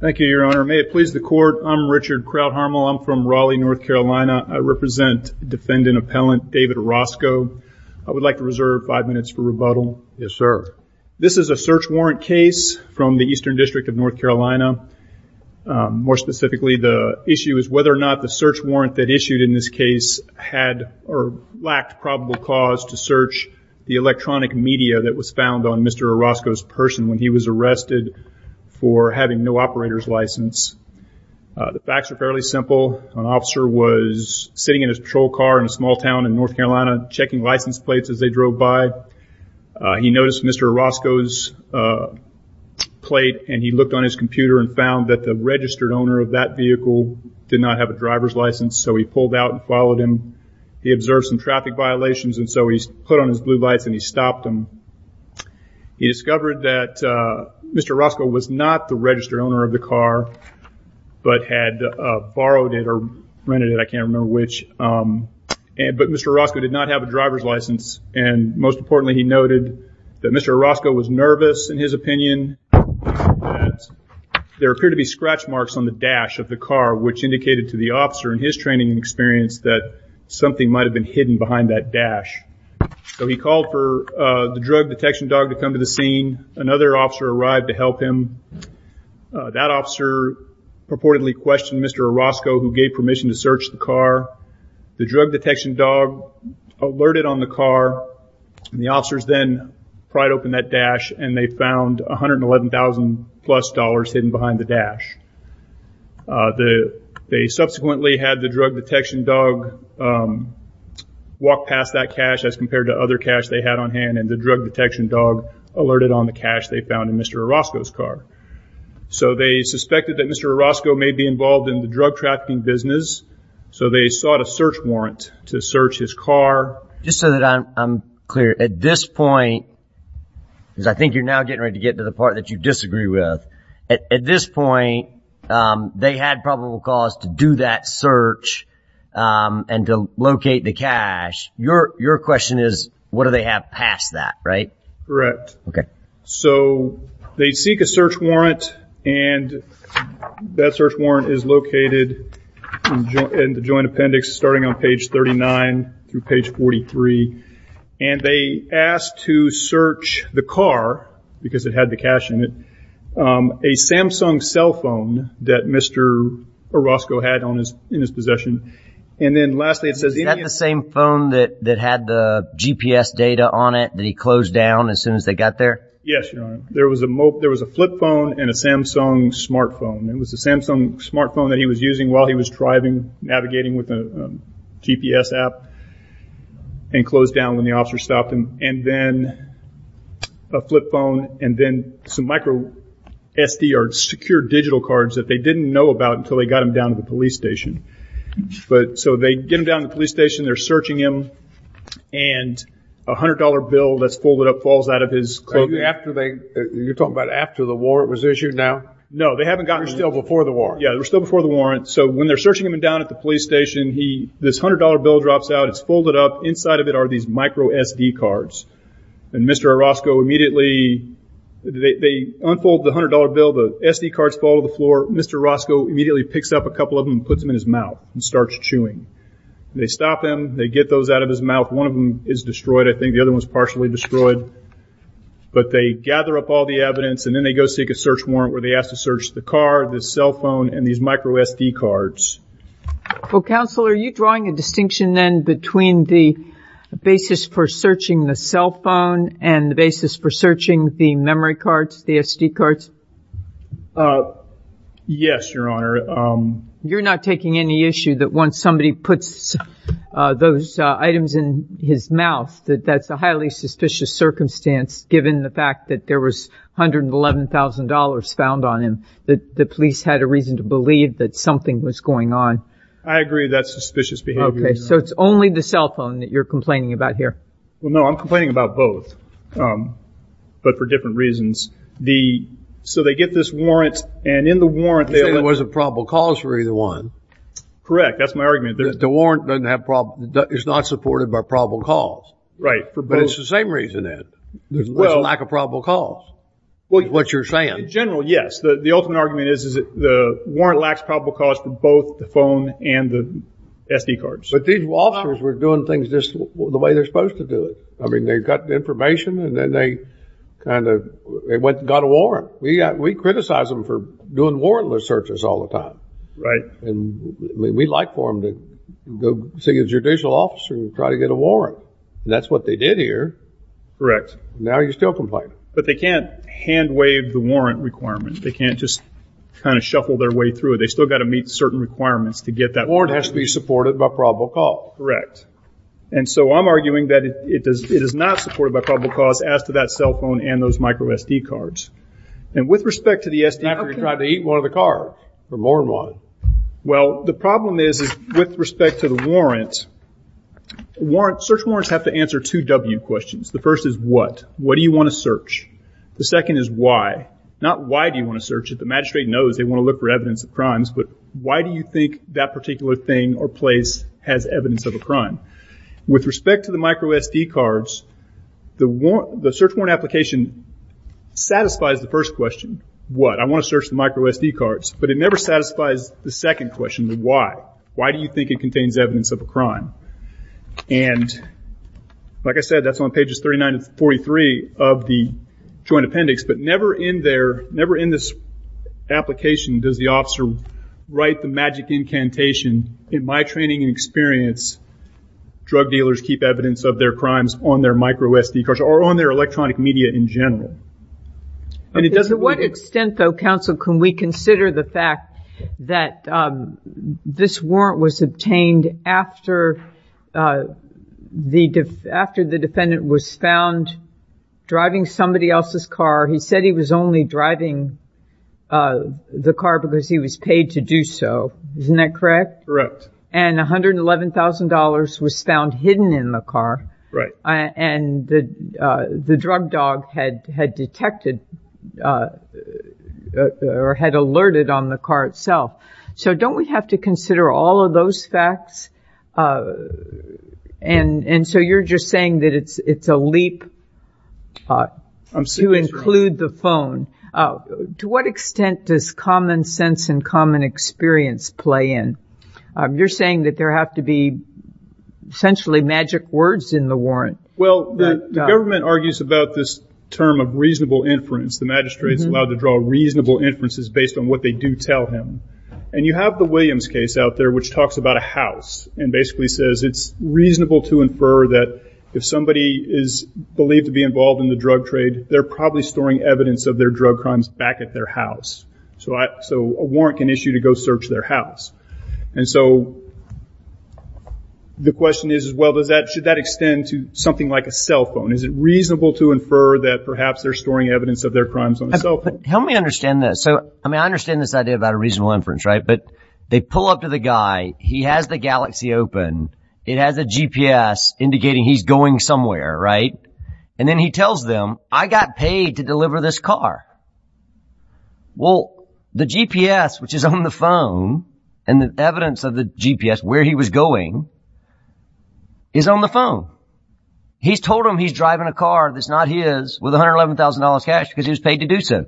Thank you, your honor. May it please the court, I'm Richard Krauthammer. I'm from Raleigh, North Carolina. I represent defendant-appellant David Orozco. I would like to reserve five minutes for rebuttal. Yes, sir. This is a search warrant case from the Eastern District of North Carolina. More specifically, the issue is whether or not the search warrant that issued in this case had or lacked probable cause to search the electronic media that was found on Mr. Orozco's person when he was arrested for having no operator's license. The facts are fairly simple. An officer was sitting in his patrol car in a small town in North Carolina, checking license plates as they drove by. He noticed Mr. Orozco's plate, and he looked on his computer and found that the registered owner of that vehicle did not have a driver's license, so he pulled out and followed him. He observed some traffic violations, so he put on his blue lights and stopped him. He discovered that Mr. Orozco was not the registered owner of the car, but had borrowed it or rented it, I can't remember which, but Mr. Orozco did not have a driver's license. Most importantly, he noted that Mr. Orozco was nervous, in his opinion. There appeared to be scratch marks on the dash of the car, which indicated to the officer in his training experience that something might have been hidden behind that dash. He called for the drug detection dog to come to the scene. Another officer arrived to help him. That officer purportedly questioned Mr. Orozco, who gave permission to search the car. The drug detection dog alerted on the car, and the officers then pryed open that dash, and they found $111,000-plus hidden behind the dash. They subsequently had the drug detection dog walk past that cash as compared to other cash they had on hand, and the drug detection dog alerted on the cash they found in Mr. Orozco's car. So they suspected that Mr. Orozco may be involved in the drug trafficking business, so they sought a search warrant to search his car. Just so that I'm clear, at this point, because I think you're now getting ready to get to the part that you disagree with, at this point, they had probable cause to do that search and to locate the cash. Your question is, what do they have past that, right? Correct. Okay. So they seek a search warrant, and that search warrant is located in the Joint Appendix starting on page 39 through page 43. And they asked to search the car, because it had the cash in it, a Samsung cell phone that Mr. Orozco had in his possession. Is that the same phone that had the GPS data on it that he closed down as soon as they got there? Yes, Your Honor. There was a flip phone and a Samsung smart phone. It was a Samsung smart phone that he was using while he was driving, navigating with a GPS app, and closed down when the officer stopped him. And then a flip phone and then some micro SD or secure digital cards that they didn't know about until they got him down to the police station. So they get him down to the police station, they're searching him, and a $100 bill that's folded up falls out of his clothing. Are you talking about after the warrant was issued now? No, they haven't gotten to him. They're still before the warrant. Yeah, they're still before the warrant. So when they're searching him down at the police station, this $100 bill drops out. It's folded up. Inside of it are these micro SD cards. And Mr. Orozco immediately – they unfold the $100 bill. The SD cards fall to the floor. Mr. Orozco immediately picks up a couple of them and puts them in his mouth and starts chewing. They stop him. They get those out of his mouth. One of them is destroyed. I think the other one's partially destroyed. But they gather up all the evidence, and then they go seek a search warrant where they ask to search the car, the cell phone, and these micro SD cards. Well, Counselor, are you drawing a distinction then between the basis for searching the cell phone and the basis for searching the memory cards, the SD cards? Yes, Your Honor. You're not taking any issue that once somebody puts those items in his mouth that that's a highly suspicious circumstance given the fact that there was $111,000 found on him that the police had a reason to believe that something was going on? I agree that's suspicious behavior, Your Honor. Okay. So it's only the cell phone that you're complaining about here? Well, no, I'm complaining about both, but for different reasons. So they get this warrant, and in the warrant they – You're saying there wasn't probable cause for either one. Correct. That's my argument. The warrant is not supported by probable cause. Right. Well – There's a lack of probable cause is what you're saying. In general, yes. The ultimate argument is that the warrant lacks probable cause for both the phone and the SD cards. But these officers were doing things just the way they're supposed to do it. I mean, they got the information, and then they kind of – they got a warrant. We criticize them for doing warrantless searches all the time. Right. And we'd like for them to go see a judicial officer and try to get a warrant. That's what they did here. Correct. Now you're still complaining. But they can't hand-wave the warrant requirement. They can't just kind of shuffle their way through it. They've still got to meet certain requirements to get that warrant. The warrant has to be supported by probable cause. Correct. And so I'm arguing that it is not supported by probable cause as to that cell phone and those micro SD cards. And with respect to the SD card – After you've tried to eat one of the cards for more than one. Well, the problem is with respect to the warrant, search warrants have to answer two W questions. The first is what. What do you want to search? The second is why. Not why do you want to search it. The magistrate knows they want to look for evidence of crimes. But why do you think that particular thing or place has evidence of a crime? With respect to the micro SD cards, the search warrant application satisfies the first question. What? I want to search the micro SD cards. But it never satisfies the second question, the why. Why do you think it contains evidence of a crime? And like I said, that's on pages 39 to 43 of the joint appendix. But never in this application does the officer write the magic incantation, in my training and experience, drug dealers keep evidence of their crimes on their micro SD cards or on their electronic media in general. To what extent, though, counsel, can we consider the fact that this warrant was obtained after the defendant was found driving somebody else's car? He said he was only driving the car because he was paid to do so. Isn't that correct? Correct. And $111,000 was found hidden in the car. Right. And the drug dog had detected or had alerted on the car itself. So don't we have to consider all of those facts? And so you're just saying that it's a leap to include the phone. To what extent does common sense and common experience play in? You're saying that there have to be essentially magic words in the warrant. Well, the government argues about this term of reasonable inference. The magistrate is allowed to draw reasonable inferences based on what they do tell him. And you have the Williams case out there which talks about a house and basically says it's reasonable to infer that if somebody is believed to be involved in the drug trade, they're probably storing evidence of their drug crimes back at their house. So a warrant can issue to go search their house. And so the question is, well, should that extend to something like a cell phone? Is it reasonable to infer that perhaps they're storing evidence of their crimes on a cell phone? Help me understand this. I mean, I understand this idea about a reasonable inference, right? But they pull up to the guy. He has the Galaxy open. It has a GPS indicating he's going somewhere, right? And then he tells them, I got paid to deliver this car. Well, the GPS, which is on the phone, and the evidence of the GPS, where he was going, is on the phone. He's told them he's driving a car that's not his with $111,000 cash because he was paid to do so.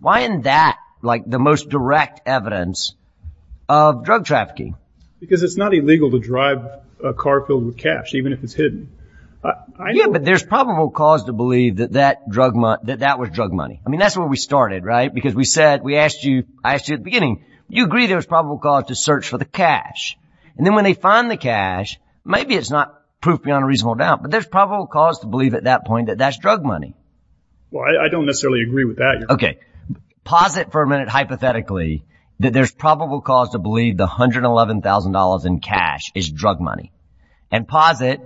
Why isn't that like the most direct evidence of drug trafficking? Because it's not illegal to drive a car filled with cash, even if it's hidden. Yeah, but there's probable cause to believe that that was drug money. I mean, that's where we started, right? Because we said, we asked you, I asked you at the beginning, you agree there was probable cause to search for the cash. And then when they find the cash, maybe it's not proof beyond a reasonable doubt, but there's probable cause to believe at that point that that's drug money. Well, I don't necessarily agree with that. Okay, posit for a minute hypothetically that there's probable cause to believe the $111,000 in cash is drug money. And posit,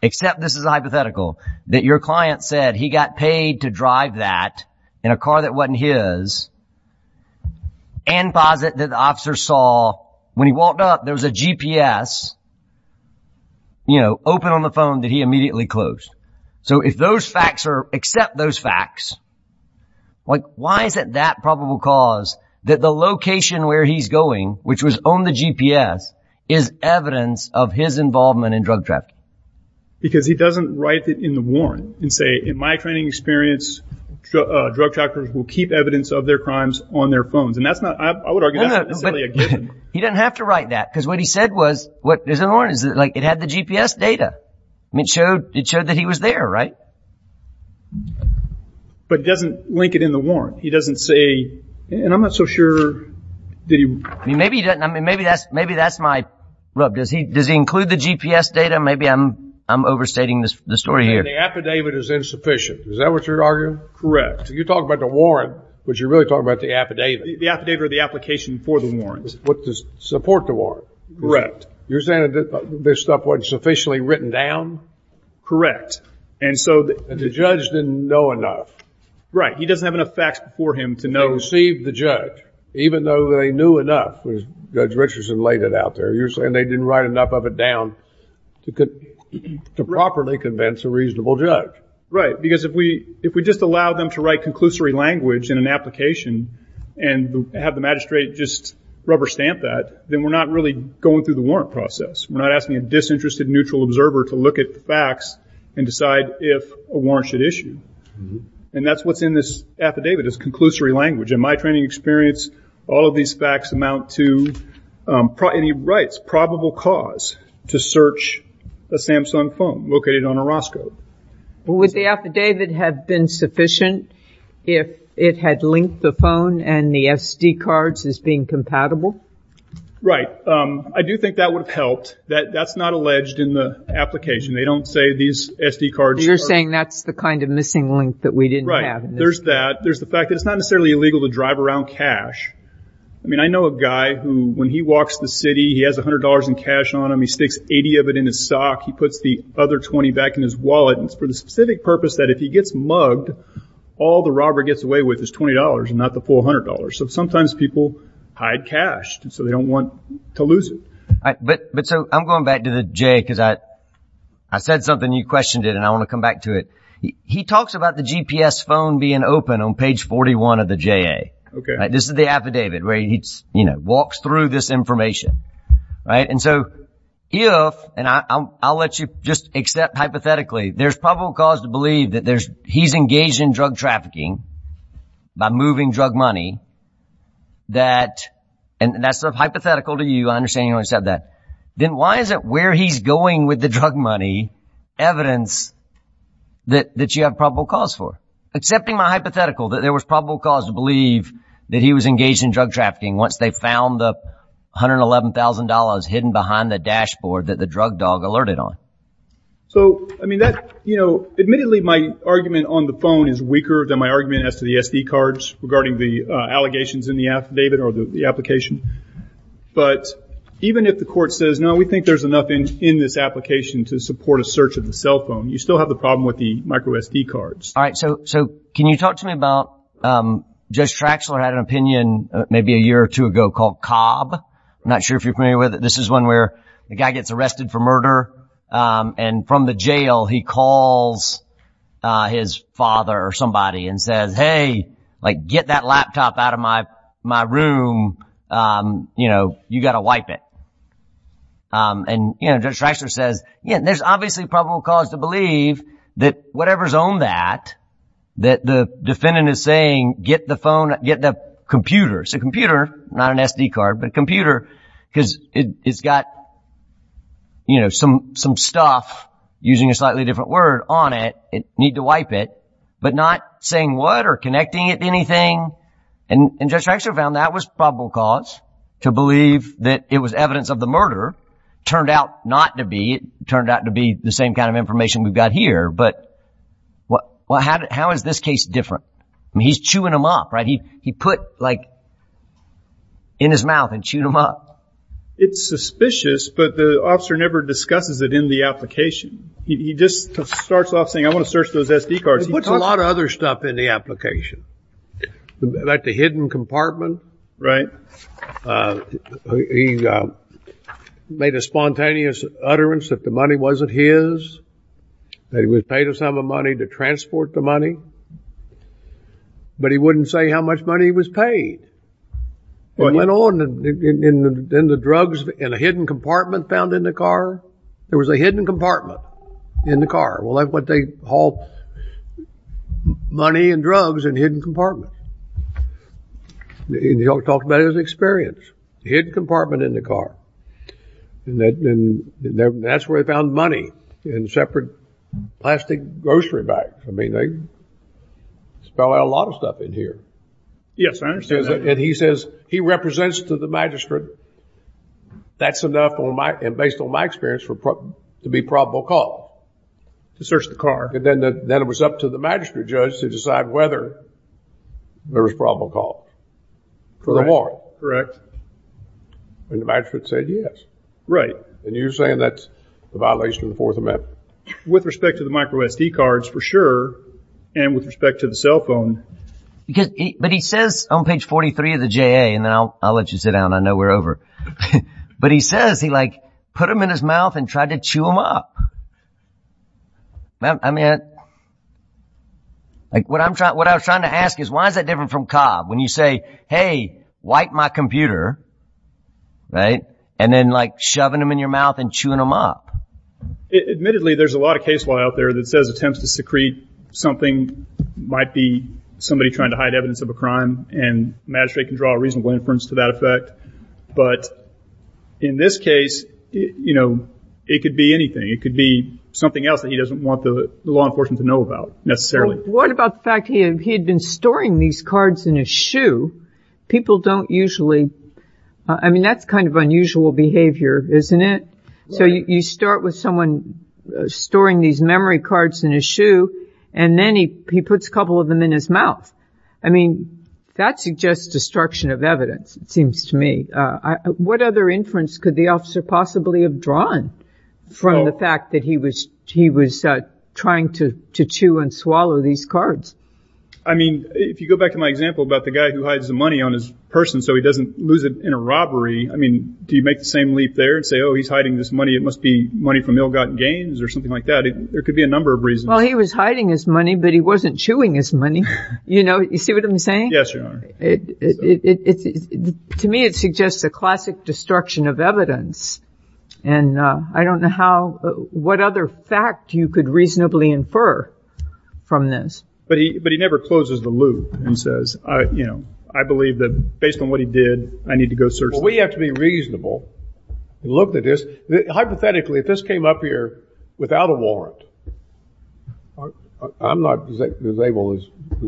except this is a hypothetical, that your client said he got paid to drive that in a car that wasn't his. And posit that the officer saw when he walked up, there was a GPS, you know, open on the phone that he immediately closed. So if those facts are, except those facts, like, why is it that probable cause that the location where he's going, which was on the GPS, is evidence of his involvement in drug trafficking? Because he doesn't write it in the warrant and say, in my training experience, drug traffickers will keep evidence of their crimes on their phones. And that's not, I would argue, that's not necessarily a given. He doesn't have to write that, because what he said was, what, there's a warrant, like, it had the GPS data. It showed that he was there, right? But it doesn't link it in the warrant. He doesn't say, and I'm not so sure. Maybe that's my rub. Does he include the GPS data? Maybe I'm overstating the story here. The affidavit is insufficient. Is that what you're arguing? Correct. You talk about the warrant, but you're really talking about the affidavit. The affidavit or the application for the warrant. To support the warrant. Correct. You're saying this stuff wasn't sufficiently written down? Correct. And so the judge didn't know enough. Right. He doesn't have enough facts before him to know. Even though they knew enough, as Judge Richardson laid it out there. You're saying they didn't write enough of it down to properly convince a reasonable judge. Right. Because if we just allow them to write conclusory language in an application and have the magistrate just rubber stamp that, then we're not really going through the warrant process. We're not asking a disinterested neutral observer to look at the facts and decide if a warrant should issue. And that's what's in this affidavit, is conclusory language. In my training experience, all of these facts amount to, and he writes, probable cause to search a Samsung phone located on a Roscoe. Would the affidavit have been sufficient if it had linked the phone and the SD cards as being compatible? Right. I do think that would have helped. That's not alleged in the application. They don't say these SD cards are. You're saying that's the kind of missing link that we didn't have. Right. There's that. There's the fact that it's not necessarily illegal to drive around cash. I mean, I know a guy who, when he walks the city, he has $100 in cash on him. He sticks $80 of it in his sock. He puts the other $20 back in his wallet. And it's for the specific purpose that if he gets mugged, all the robber gets away with is $20 and not the full $100. So sometimes people hide cash so they don't want to lose it. But so I'm going back to the JA because I said something, you questioned it, and I want to come back to it. He talks about the GPS phone being open on page 41 of the JA. This is the affidavit where he walks through this information. And so if, and I'll let you just accept hypothetically, there's probable cause to believe that he's engaged in drug trafficking by moving drug money. And that's sort of hypothetical to you. I understand you only said that. Then why is it where he's going with the drug money evidence that you have probable cause for? Accepting my hypothetical that there was probable cause to believe that he was engaged in drug trafficking once they found the $111,000 hidden behind the dashboard that the drug dog alerted on. So I mean that, you know, admittedly my argument on the phone is weaker than my argument as to the SD cards regarding the allegations in the affidavit or the application. But even if the court says, no, we think there's enough in this application to support a search of the cell phone, you still have the problem with the micro SD cards. All right, so can you talk to me about Judge Traxler had an opinion maybe a year or two ago called Cobb. I'm not sure if you're familiar with it. This is one where the guy gets arrested for murder and from the jail he calls his father or somebody and says, hey, like, get that laptop out of my room. You know, you got to wipe it. And, you know, Judge Traxler says, yeah, there's obviously probable cause to believe that whatever's on that, that the defendant is saying, get the phone, get the computer. It's a computer, not an SD card, but a computer because it's got, you know, some some stuff using a slightly different word on it. It need to wipe it, but not saying what or connecting it to anything. And Judge Traxler found that was probable cause to believe that it was evidence of the murder. Turned out not to be. It turned out to be the same kind of information we've got here. But what how how is this case different? He's chewing him up. Right. He he put like. In his mouth and chewed him up. It's suspicious, but the officer never discusses it in the application. He just starts off saying, I want to search those SD cards. He puts a lot of other stuff in the application, like the hidden compartment. Right. He made a spontaneous utterance that the money wasn't his. That he was paid a sum of money to transport the money. But he wouldn't say how much money he was paid. It went on and then the drugs in a hidden compartment found in the car. There was a hidden compartment in the car. Well, that's what they haul money and drugs in, hidden compartment. He talks about his experience, hidden compartment in the car. And that's where they found money in separate plastic grocery bags. I mean, they spill out a lot of stuff in here. Yes, I understand that. And he says he represents to the magistrate. That's enough on my and based on my experience to be probable cause. To search the car. Then it was up to the magistrate judge to decide whether there was probable cause. For the warrant. Correct. And the magistrate said yes. Right. And you're saying that's a violation of the Fourth Amendment. With respect to the micro SD cards, for sure. And with respect to the cell phone. But he says on page 43 of the J.A. And I'll let you sit down. I know we're over. But he says he like put them in his mouth and tried to chew them up. I mean, what I'm trying to ask is why is that different from Cobb? When you say, hey, wipe my computer. Right. And then, like, shoving them in your mouth and chewing them up. Admittedly, there's a lot of case law out there that says attempts to secrete something might be somebody trying to hide evidence of a crime. And magistrate can draw a reasonable inference to that effect. But in this case, you know, it could be anything. It could be something else that he doesn't want the law enforcement to know about necessarily. What about the fact he had been storing these cards in his shoe? People don't usually. I mean, that's kind of unusual behavior, isn't it? So you start with someone storing these memory cards in his shoe and then he puts a couple of them in his mouth. I mean, that's just destruction of evidence. It seems to me. What other inference could the officer possibly have drawn from the fact that he was trying to chew and swallow these cards? I mean, if you go back to my example about the guy who hides the money on his person so he doesn't lose it in a robbery. I mean, do you make the same leap there and say, oh, he's hiding this money. It must be money from ill-gotten gains or something like that. There could be a number of reasons. Well, he was hiding his money, but he wasn't chewing his money. You know, you see what I'm saying? Yes, Your Honor. To me, it suggests a classic destruction of evidence. And I don't know what other fact you could reasonably infer from this. But he never closes the loop and says, you know, I believe that based on what he did, I need to go search. We have to be reasonable. Look at this. Hypothetically, if this came up here without a warrant, I'm not as able as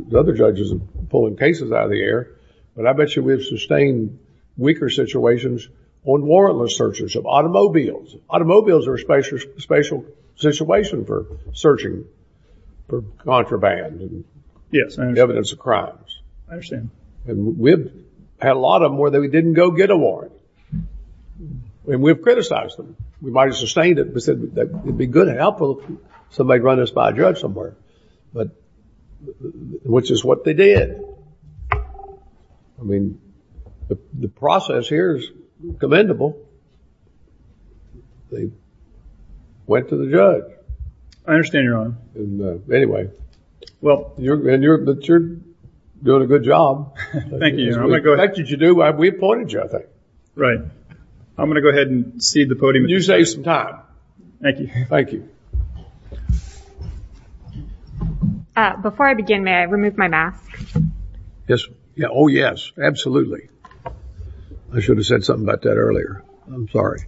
the other judges in pulling cases out of the air, but I bet you we've sustained weaker situations on warrantless searches of automobiles. Automobiles are a special situation for searching for contraband and evidence of crimes. I understand. And we've had a lot of them where we didn't go get a warrant. And we've criticized them. We might have sustained it, but said it would be good and helpful if somebody would run us by a judge somewhere, which is what they did. I mean, the process here is commendable. They went to the judge. I understand, Your Honor. Anyway, you're doing a good job. Thank you, Your Honor. The fact that you do, we appointed you, I think. Right. I'm going to go ahead and cede the podium. You saved some time. Thank you. Thank you. Before I begin, may I remove my mask? Yes. Oh, yes. Absolutely. I should have said something about that earlier. I'm sorry.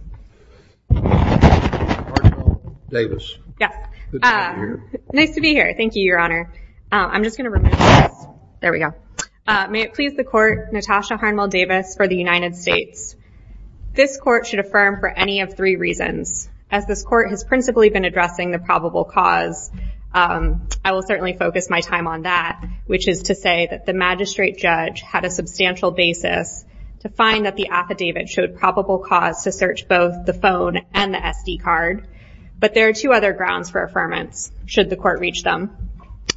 Davis. Yes. Good to be here. Nice to be here. Thank you, Your Honor. I'm just going to remove this. There we go. May it please the court, Natasha Harnwell Davis for the United States. This court should affirm for any of three reasons. As this court has principally been addressing the probable cause, I will certainly focus my time on that, which is to say that the magistrate judge had a substantial basis to find that the affidavit showed probable cause to search both the phone and the SD card. But there are two other grounds for affirmance, should the court reach them.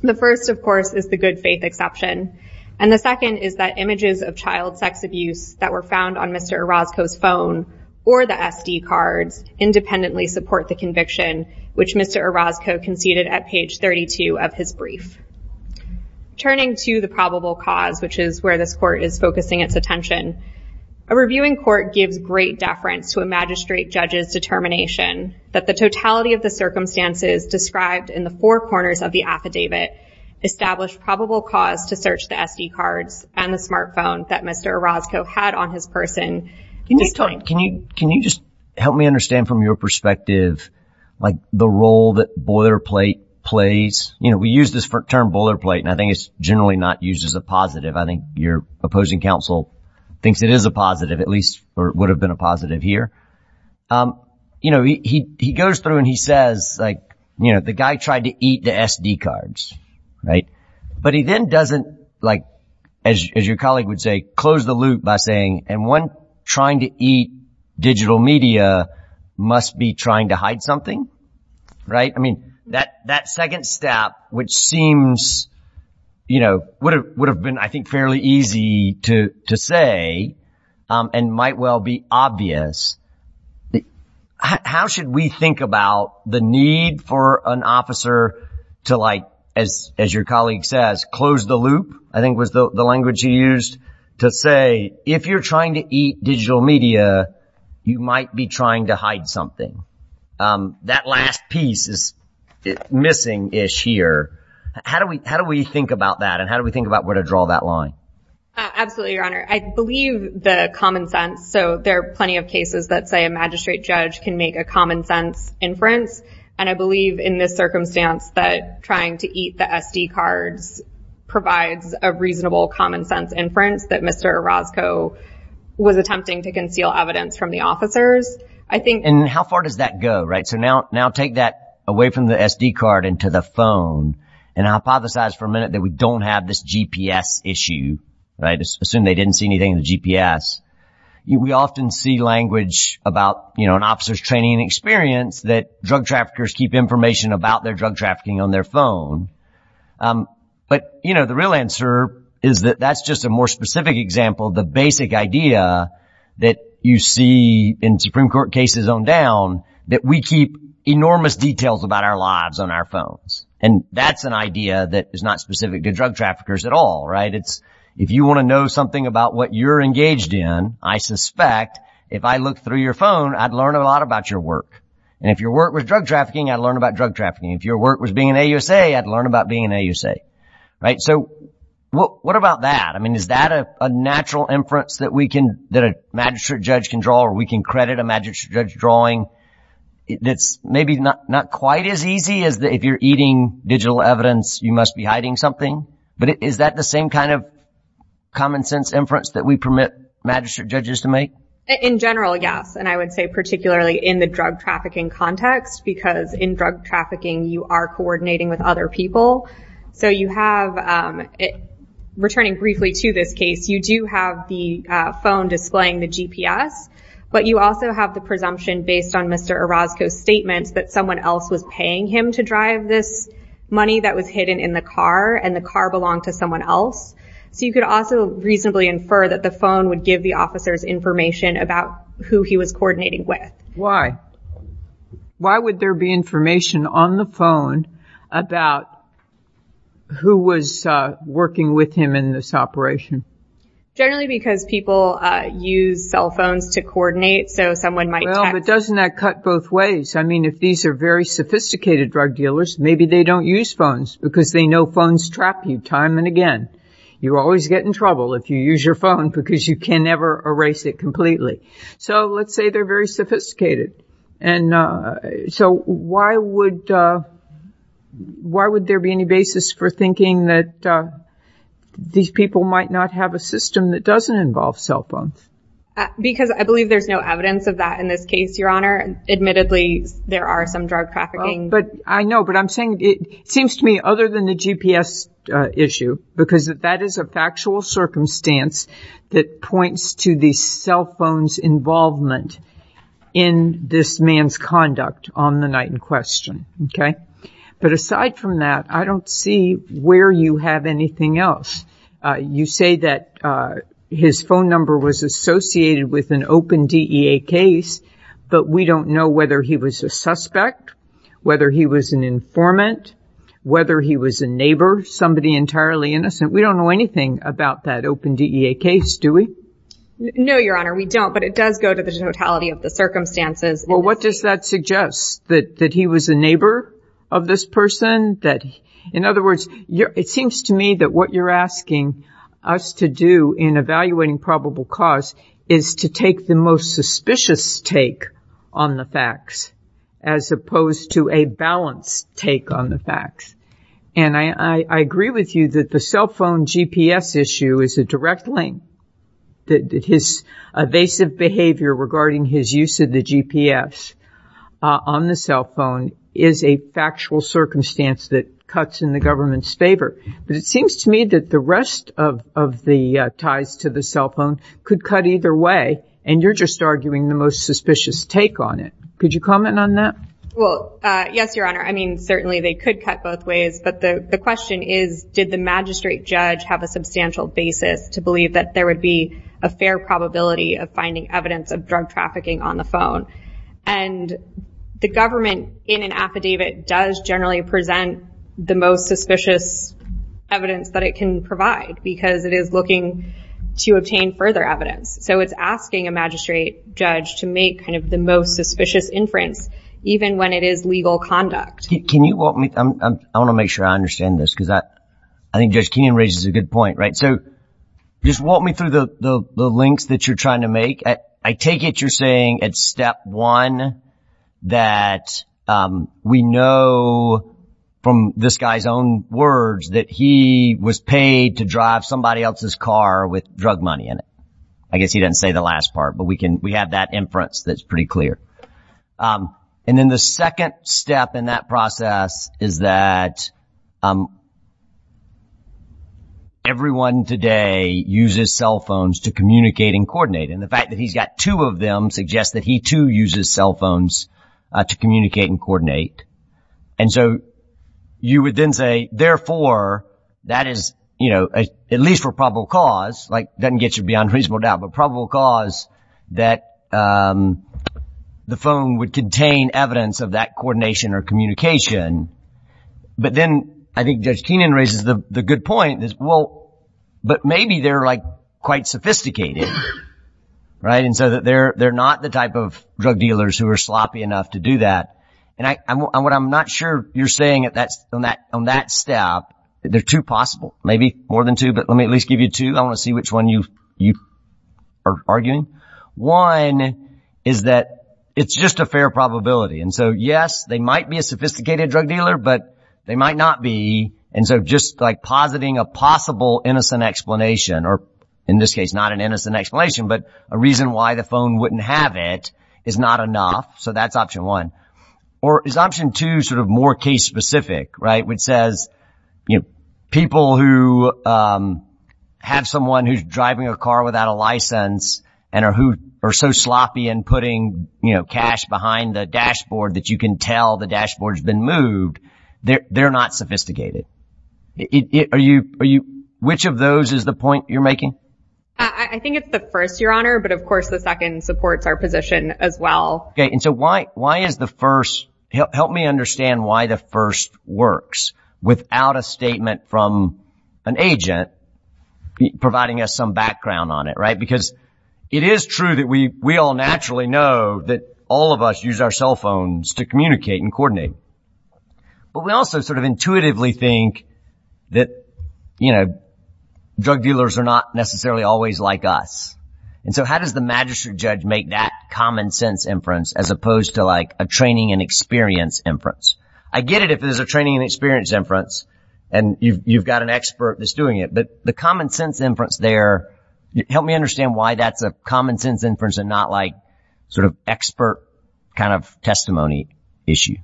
The first, of course, is the good faith exception. And the second is that images of child sex abuse that were found on Mr. Orozco's phone or the SD cards independently support the conviction, which Mr. Orozco conceded at page 32 of his brief. Turning to the probable cause, which is where this court is focusing its attention, a reviewing court gives great deference to a magistrate judge's determination that the totality of the circumstances described in the four corners of the affidavit establish probable cause to search the SD cards and the smartphone that Mr. Orozco had on his person. Can you just help me understand from your perspective, like, the role that boilerplate plays? You know, we use this term boilerplate, and I think it's generally not used as a positive. I think your opposing counsel thinks it is a positive, at least would have been a positive here. You know, he goes through and he says, like, you know, the guy tried to eat the SD cards, right? But he then doesn't, like, as your colleague would say, close the loop by saying, and one trying to eat digital media must be trying to hide something, right? I mean, that second step, which seems, you know, would have been, I think, fairly easy to say and might well be obvious. How should we think about the need for an officer to, like, as your colleague says, close the loop, I think was the language he used, to say, if you're trying to eat digital media, you might be trying to hide something. That last piece is missing-ish here. How do we think about that, and how do we think about where to draw that line? Absolutely, Your Honor. I believe the common sense. So there are plenty of cases that say a magistrate judge can make a common sense inference. And I believe in this circumstance that trying to eat the SD cards provides a reasonable common sense inference that Mr. Orozco was attempting to conceal evidence from the officers. I think- And how far does that go, right? So now take that away from the SD card and to the phone and hypothesize for a minute that we don't have this GPS issue, right? Assume they didn't see anything in the GPS. We often see language about, you know, an officer's training and experience that drug traffickers keep information about their drug trafficking on their phone. But, you know, the real answer is that that's just a more specific example. The basic idea that you see in Supreme Court cases on down that we keep enormous details about our lives on our phones. And that's an idea that is not specific to drug traffickers at all, right? If you want to know something about what you're engaged in, I suspect if I look through your phone, I'd learn a lot about your work. And if your work was drug trafficking, I'd learn about drug trafficking. If your work was being an AUSA, I'd learn about being an AUSA, right? So what about that? I mean, is that a natural inference that we can that a magistrate judge can draw or we can credit a magistrate judge drawing? It's maybe not quite as easy as if you're eating digital evidence, you must be hiding something. But is that the same kind of common sense inference that we permit magistrate judges to make? In general, yes. And I would say particularly in the drug trafficking context, because in drug trafficking, you are coordinating with other people. So you have, returning briefly to this case, you do have the phone displaying the GPS. But you also have the presumption based on Mr. Orozco's statements that someone else was paying him to drive this money that was hidden in the car and the car belonged to someone else. So you could also reasonably infer that the phone would give the officers information about who he was coordinating with. Why? Why would there be information on the phone about who was working with him in this operation? Generally because people use cell phones to coordinate, so someone might text. Well, but doesn't that cut both ways? I mean, if these are very sophisticated drug dealers, maybe they don't use phones because they know phones trap you time and again. You always get in trouble if you use your phone because you can never erase it completely. So let's say they're very sophisticated. And so why would there be any basis for thinking that these people might not have a system that doesn't involve cell phones? Because I believe there's no evidence of that in this case, Your Honor. Admittedly, there are some drug trafficking. But I know, but I'm saying it seems to me other than the GPS issue, because that is a factual circumstance that points to the cell phone's involvement in this man's conduct on the night in question. Okay. But aside from that, I don't see where you have anything else. You say that his phone number was associated with an open DEA case, but we don't know whether he was a suspect, whether he was an informant, whether he was a neighbor, somebody entirely innocent. We don't know anything about that open DEA case, do we? No, Your Honor, we don't, but it does go to the totality of the circumstances. Well, what does that suggest, that he was a neighbor of this person? In other words, it seems to me that what you're asking us to do in evaluating probable cause is to take the most suspicious take on the facts as opposed to a balanced take on the facts. And I agree with you that the cell phone GPS issue is a direct link, that his evasive behavior regarding his use of the GPS on the cell phone is a factual circumstance that cuts in the government's favor. But it seems to me that the rest of the ties to the cell phone could cut either way, and you're just arguing the most suspicious take on it. Could you comment on that? Well, yes, Your Honor. I mean, certainly they could cut both ways, but the question is, did the magistrate judge have a substantial basis to believe that there would be a fair probability of finding evidence of drug trafficking on the phone? And the government, in an affidavit, does generally present the most suspicious evidence that it can provide because it is looking to obtain further evidence. So it's asking a magistrate judge to make kind of the most suspicious inference, even when it is legal conduct. Can you walk me? I want to make sure I understand this because I think Judge Keenan raises a good point, right? So just walk me through the links that you're trying to make. I take it you're saying at step one that we know from this guy's own words that he was paid to drive somebody else's car with drug money in it. I guess he didn't say the last part, but we have that inference that's pretty clear. And then the second step in that process is that everyone today uses cell phones to communicate and coordinate. And the fact that he's got two of them suggests that he, too, uses cell phones to communicate and coordinate. And so you would then say, therefore, that is, you know, at least for probable cause, like doesn't get you beyond reasonable doubt, but probable cause that the phone would contain evidence of that coordination or communication. But then I think Judge Keenan raises the good point is, well, but maybe they're like quite sophisticated. Right. And so that they're they're not the type of drug dealers who are sloppy enough to do that. And I'm what I'm not sure you're saying at that on that on that step. There are two possible, maybe more than two. But let me at least give you two. I want to see which one you you are arguing. One is that it's just a fair probability. And so, yes, they might be a sophisticated drug dealer, but they might not be. And so just like positing a possible innocent explanation or in this case, not an innocent explanation, but a reason why the phone wouldn't have it is not enough. So that's option one or is option two sort of more case specific. Right. Which says, you know, people who have someone who's driving a car without a license and are who are so sloppy and putting, you know, cash behind the dashboard that you can tell the dashboard has been moved. They're not sophisticated. Are you are you which of those is the point you're making? I think it's the first, Your Honor. But of course, the second supports our position as well. And so why why is the first help me understand why the first works without a statement from an agent providing us some background on it? Right. Because it is true that we we all naturally know that all of us use our cell phones to communicate and coordinate. But we also sort of intuitively think that, you know, drug dealers are not necessarily always like us. And so how does the magistrate judge make that common sense inference as opposed to like a training and experience inference? I get it if there's a training and experience inference and you've got an expert that's doing it. But the common sense inference there help me understand why that's a common sense inference and not like sort of expert kind of testimony issue.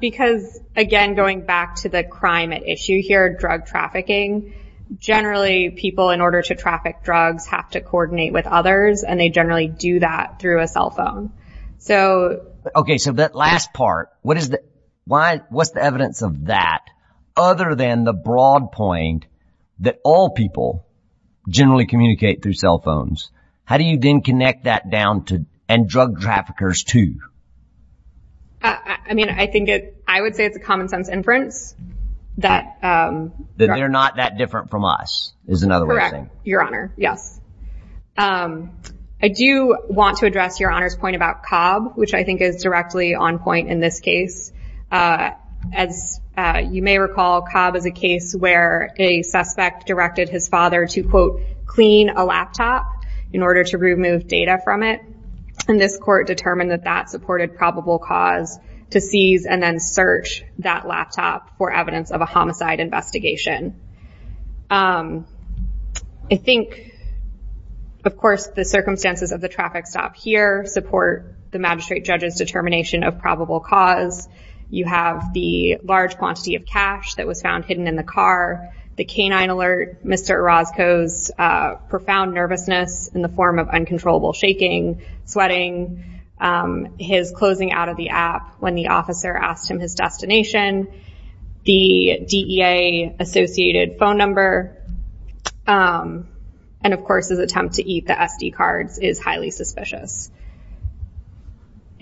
Because, again, going back to the crime issue here, drug trafficking, generally people in order to traffic drugs have to coordinate with others and they generally do that through a cell phone. So, OK, so that last part, what is that? Why? What's the evidence of that other than the broad point that all people generally communicate through cell phones? How do you then connect that down to and drug traffickers, too? I mean, I think I would say it's a common sense inference that they're not that different from us is another way of saying your honor. Yes. I do want to address your honor's point about Cobb, which I think is directly on point in this case. As you may recall, Cobb is a case where a suspect directed his father to, quote, in order to remove data from it. And this court determined that that supported probable cause to seize and then search that laptop for evidence of a homicide investigation. I think, of course, the circumstances of the traffic stop here support the magistrate judge's determination of probable cause. You have the large quantity of cash that was found hidden in the car. The canine alert, Mr. Orozco's profound nervousness in the form of uncontrollable shaking, sweating, his closing out of the app when the officer asked him his destination, the DEA associated phone number. And of course, his attempt to eat the SD cards is highly suspicious.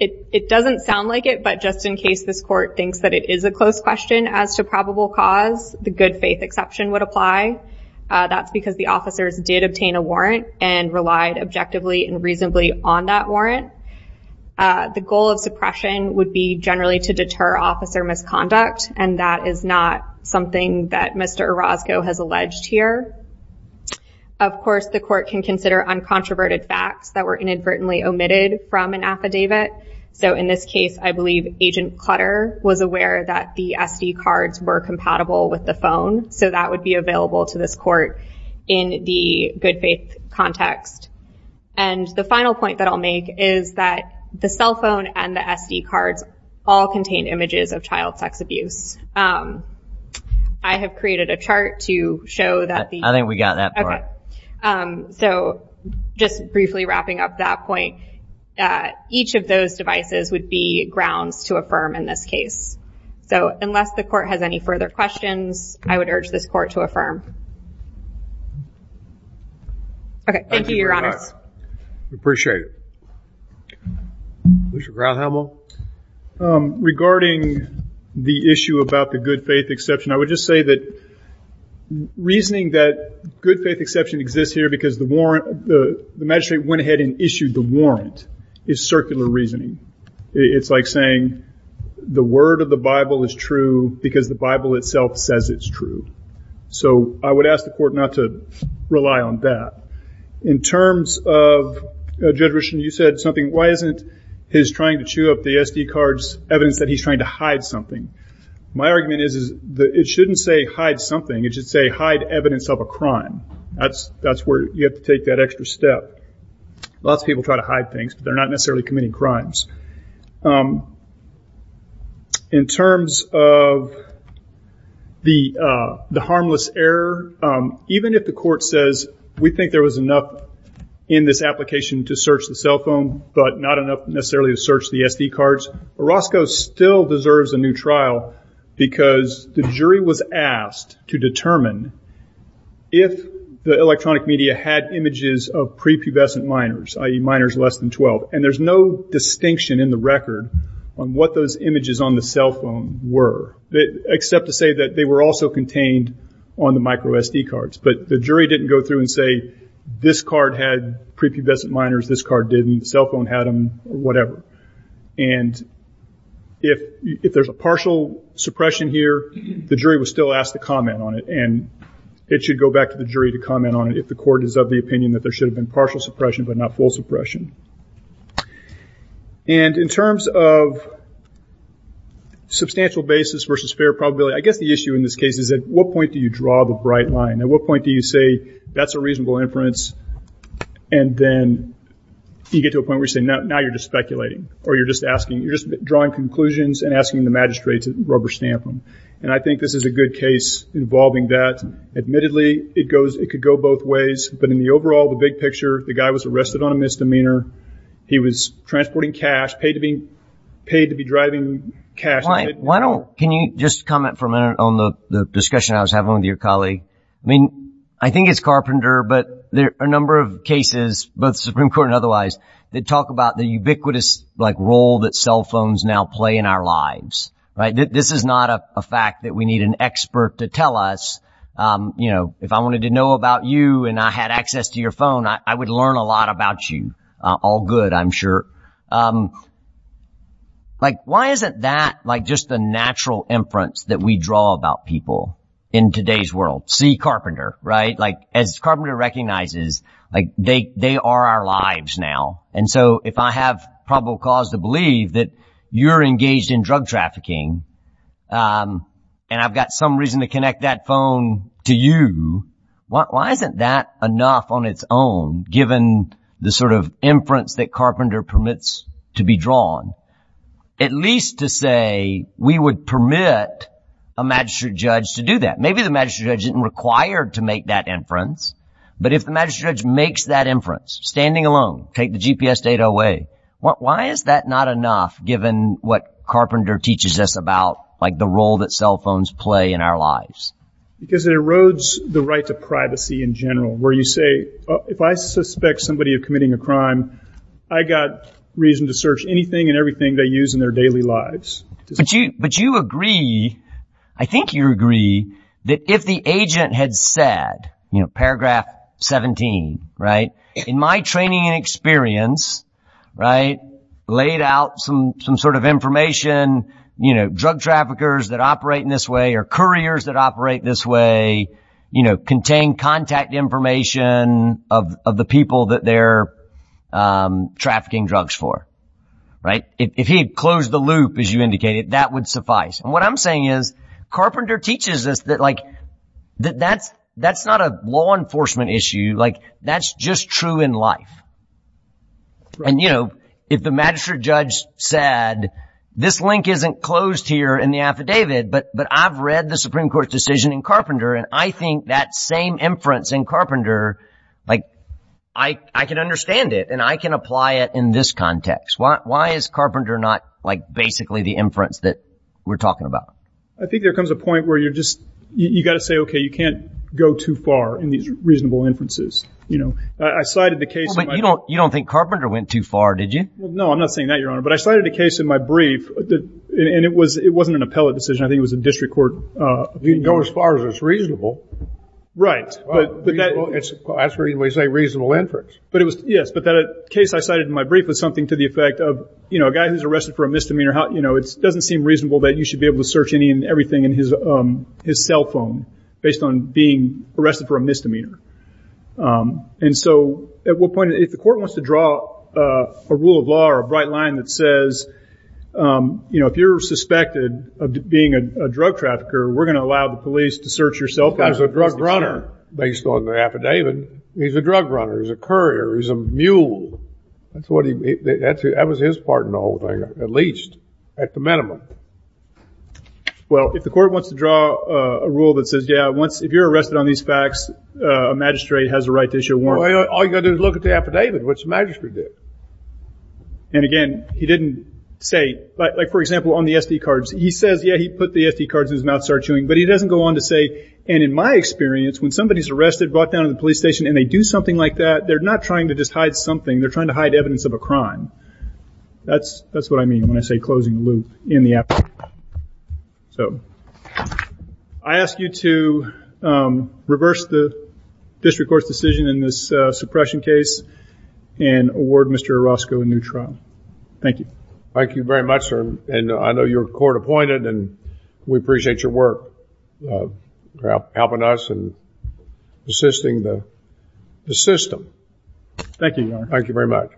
It doesn't sound like it, but just in case this court thinks that it is a close question as to probable cause, the good faith exception would apply. That's because the officers did obtain a warrant and relied objectively and reasonably on that warrant. The goal of suppression would be generally to deter officer misconduct. And that is not something that Mr. Orozco has alleged here. Of course, the court can consider uncontroverted facts that were inadvertently omitted from an affidavit. So in this case, I believe Agent Clutter was aware that the SD cards were compatible with the phone. So that would be available to this court in the good faith context. And the final point that I'll make is that the cell phone and the SD cards all contain images of child sex abuse. I have created a chart to show that. I think we got that. All right. So just briefly wrapping up that point, each of those devices would be grounds to affirm in this case. So unless the court has any further questions, I would urge this court to affirm. Okay. Thank you, Your Honors. We appreciate it. Mr. Granthamel? Regarding the issue about the good faith exception, I would just say that reasoning that good faith exception exists here because the magistrate went ahead and issued the warrant is circular reasoning. It's like saying the word of the Bible is true because the Bible itself says it's true. So I would ask the court not to rely on that. In terms of, Judge Richland, you said something. Why isn't his trying to chew up the SD cards evidence that he's trying to hide something? My argument is it shouldn't say hide something. It should say hide evidence of a crime. That's where you have to take that extra step. Lots of people try to hide things, but they're not necessarily committing crimes. In terms of the harmless error, even if the court says we think there was enough in this application to search the cell phone, but not enough necessarily to search the SD cards, Orozco still deserves a new trial because the jury was asked to determine if the electronic media had images of prepubescent minors, i.e., minors less than 12, and there's no distinction in the record on what those images on the cell phone were, except to say that they were also contained on the micro SD cards. But the jury didn't go through and say this card had prepubescent minors, this card didn't, the cell phone had them, or whatever. And if there's a partial suppression here, the jury would still ask to comment on it, and it should go back to the jury to comment on it if the court is of the opinion that there should have been partial suppression but not full suppression. And in terms of substantial basis versus fair probability, I guess the issue in this case is at what point do you draw the bright line? At what point do you say that's a reasonable inference, and then you get to a point where you say now you're just speculating, or you're just asking, you're just drawing conclusions and asking the magistrate to rubber stamp them. And I think this is a good case involving that. Admittedly, it could go both ways, but in the overall, the big picture, the guy was arrested on a misdemeanor. He was transporting cash, paid to be driving cash. Why don't, can you just comment for a minute on the discussion I was having with your colleague? I mean, I think it's Carpenter, but there are a number of cases, both Supreme Court and otherwise, that talk about the ubiquitous role that cell phones now play in our lives. This is not a fact that we need an expert to tell us. If I wanted to know about you and I had access to your phone, I would learn a lot about you. All good, I'm sure. Why isn't that just the natural inference that we draw about people in today's world? See Carpenter, right? As Carpenter recognizes, they are our lives now. And so if I have probable cause to believe that you're engaged in drug trafficking and I've got some reason to connect that phone to you, why isn't that enough on its own, given the sort of inference that Carpenter permits to be drawn? At least to say we would permit a magistrate judge to do that. Maybe the magistrate judge isn't required to make that inference. But if the magistrate judge makes that inference, standing alone, take the GPS data away, why is that not enough, given what Carpenter teaches us about, like the role that cell phones play in our lives? Because it erodes the right to privacy in general, where you say, if I suspect somebody of committing a crime, I've got reason to search anything and everything they use in their daily lives. But you agree, I think you agree, that if the agent had said, you know, paragraph 17, right, in my training and experience, right, laid out some sort of information, you know, drug traffickers that operate in this way or couriers that operate this way, you know, contain contact information of the people that they're trafficking drugs for, right? If he had closed the loop, as you indicated, that would suffice. And what I'm saying is Carpenter teaches us that, like, that that's that's not a law enforcement issue. Like, that's just true in life. And, you know, if the magistrate judge said, this link isn't closed here in the affidavit, but I've read the Supreme Court decision in Carpenter, and I think that same inference in Carpenter, like, I can understand it, and I can apply it in this context. Why is Carpenter not, like, basically the inference that we're talking about? I think there comes a point where you're just you got to say, OK, you can't go too far in these reasonable inferences. You know, I cited the case. But you don't think Carpenter went too far, did you? No, I'm not saying that, Your Honor. But I cited a case in my brief, and it wasn't an appellate decision. I think it was a district court. You can go as far as it's reasonable. Right. That's the reason we say reasonable inference. Yes, but that case I cited in my brief was something to the effect of, you know, a guy who's arrested for a misdemeanor, you know, it doesn't seem reasonable that you should be able to search anything in his cell phone based on being arrested for a misdemeanor. And so at what point, if the court wants to draw a rule of law or a bright line that says, you know, if you're suspected of being a drug trafficker, we're going to allow the police to search your cell phone. Because he's a drug runner, based on the affidavit. He's a drug runner. He's a courier. He's a mule. That was his part in the whole thing, at least, at the minimum. Well, if the court wants to draw a rule that says, yeah, if you're arrested on these facts, a magistrate has the right to issue a warrant. All you've got to do is look at the affidavit, which the magistrate did. And again, he didn't say, like, for example, on the SD cards, he says, yeah, he put the SD cards in his mouth, started chewing. But he doesn't go on to say, and in my experience, when somebody's arrested, brought down to the police station, and they do something like that, they're not trying to just hide something. They're trying to hide evidence of a crime. That's what I mean when I say closing the loop in the affidavit. So I ask you to reverse the district court's decision in this suppression case and award Mr. Orozco a new trial. Thank you. Thank you very much, sir. And I know you're court-appointed, and we appreciate your work, helping us and assisting the system. Thank you, Your Honor. Thank you very much.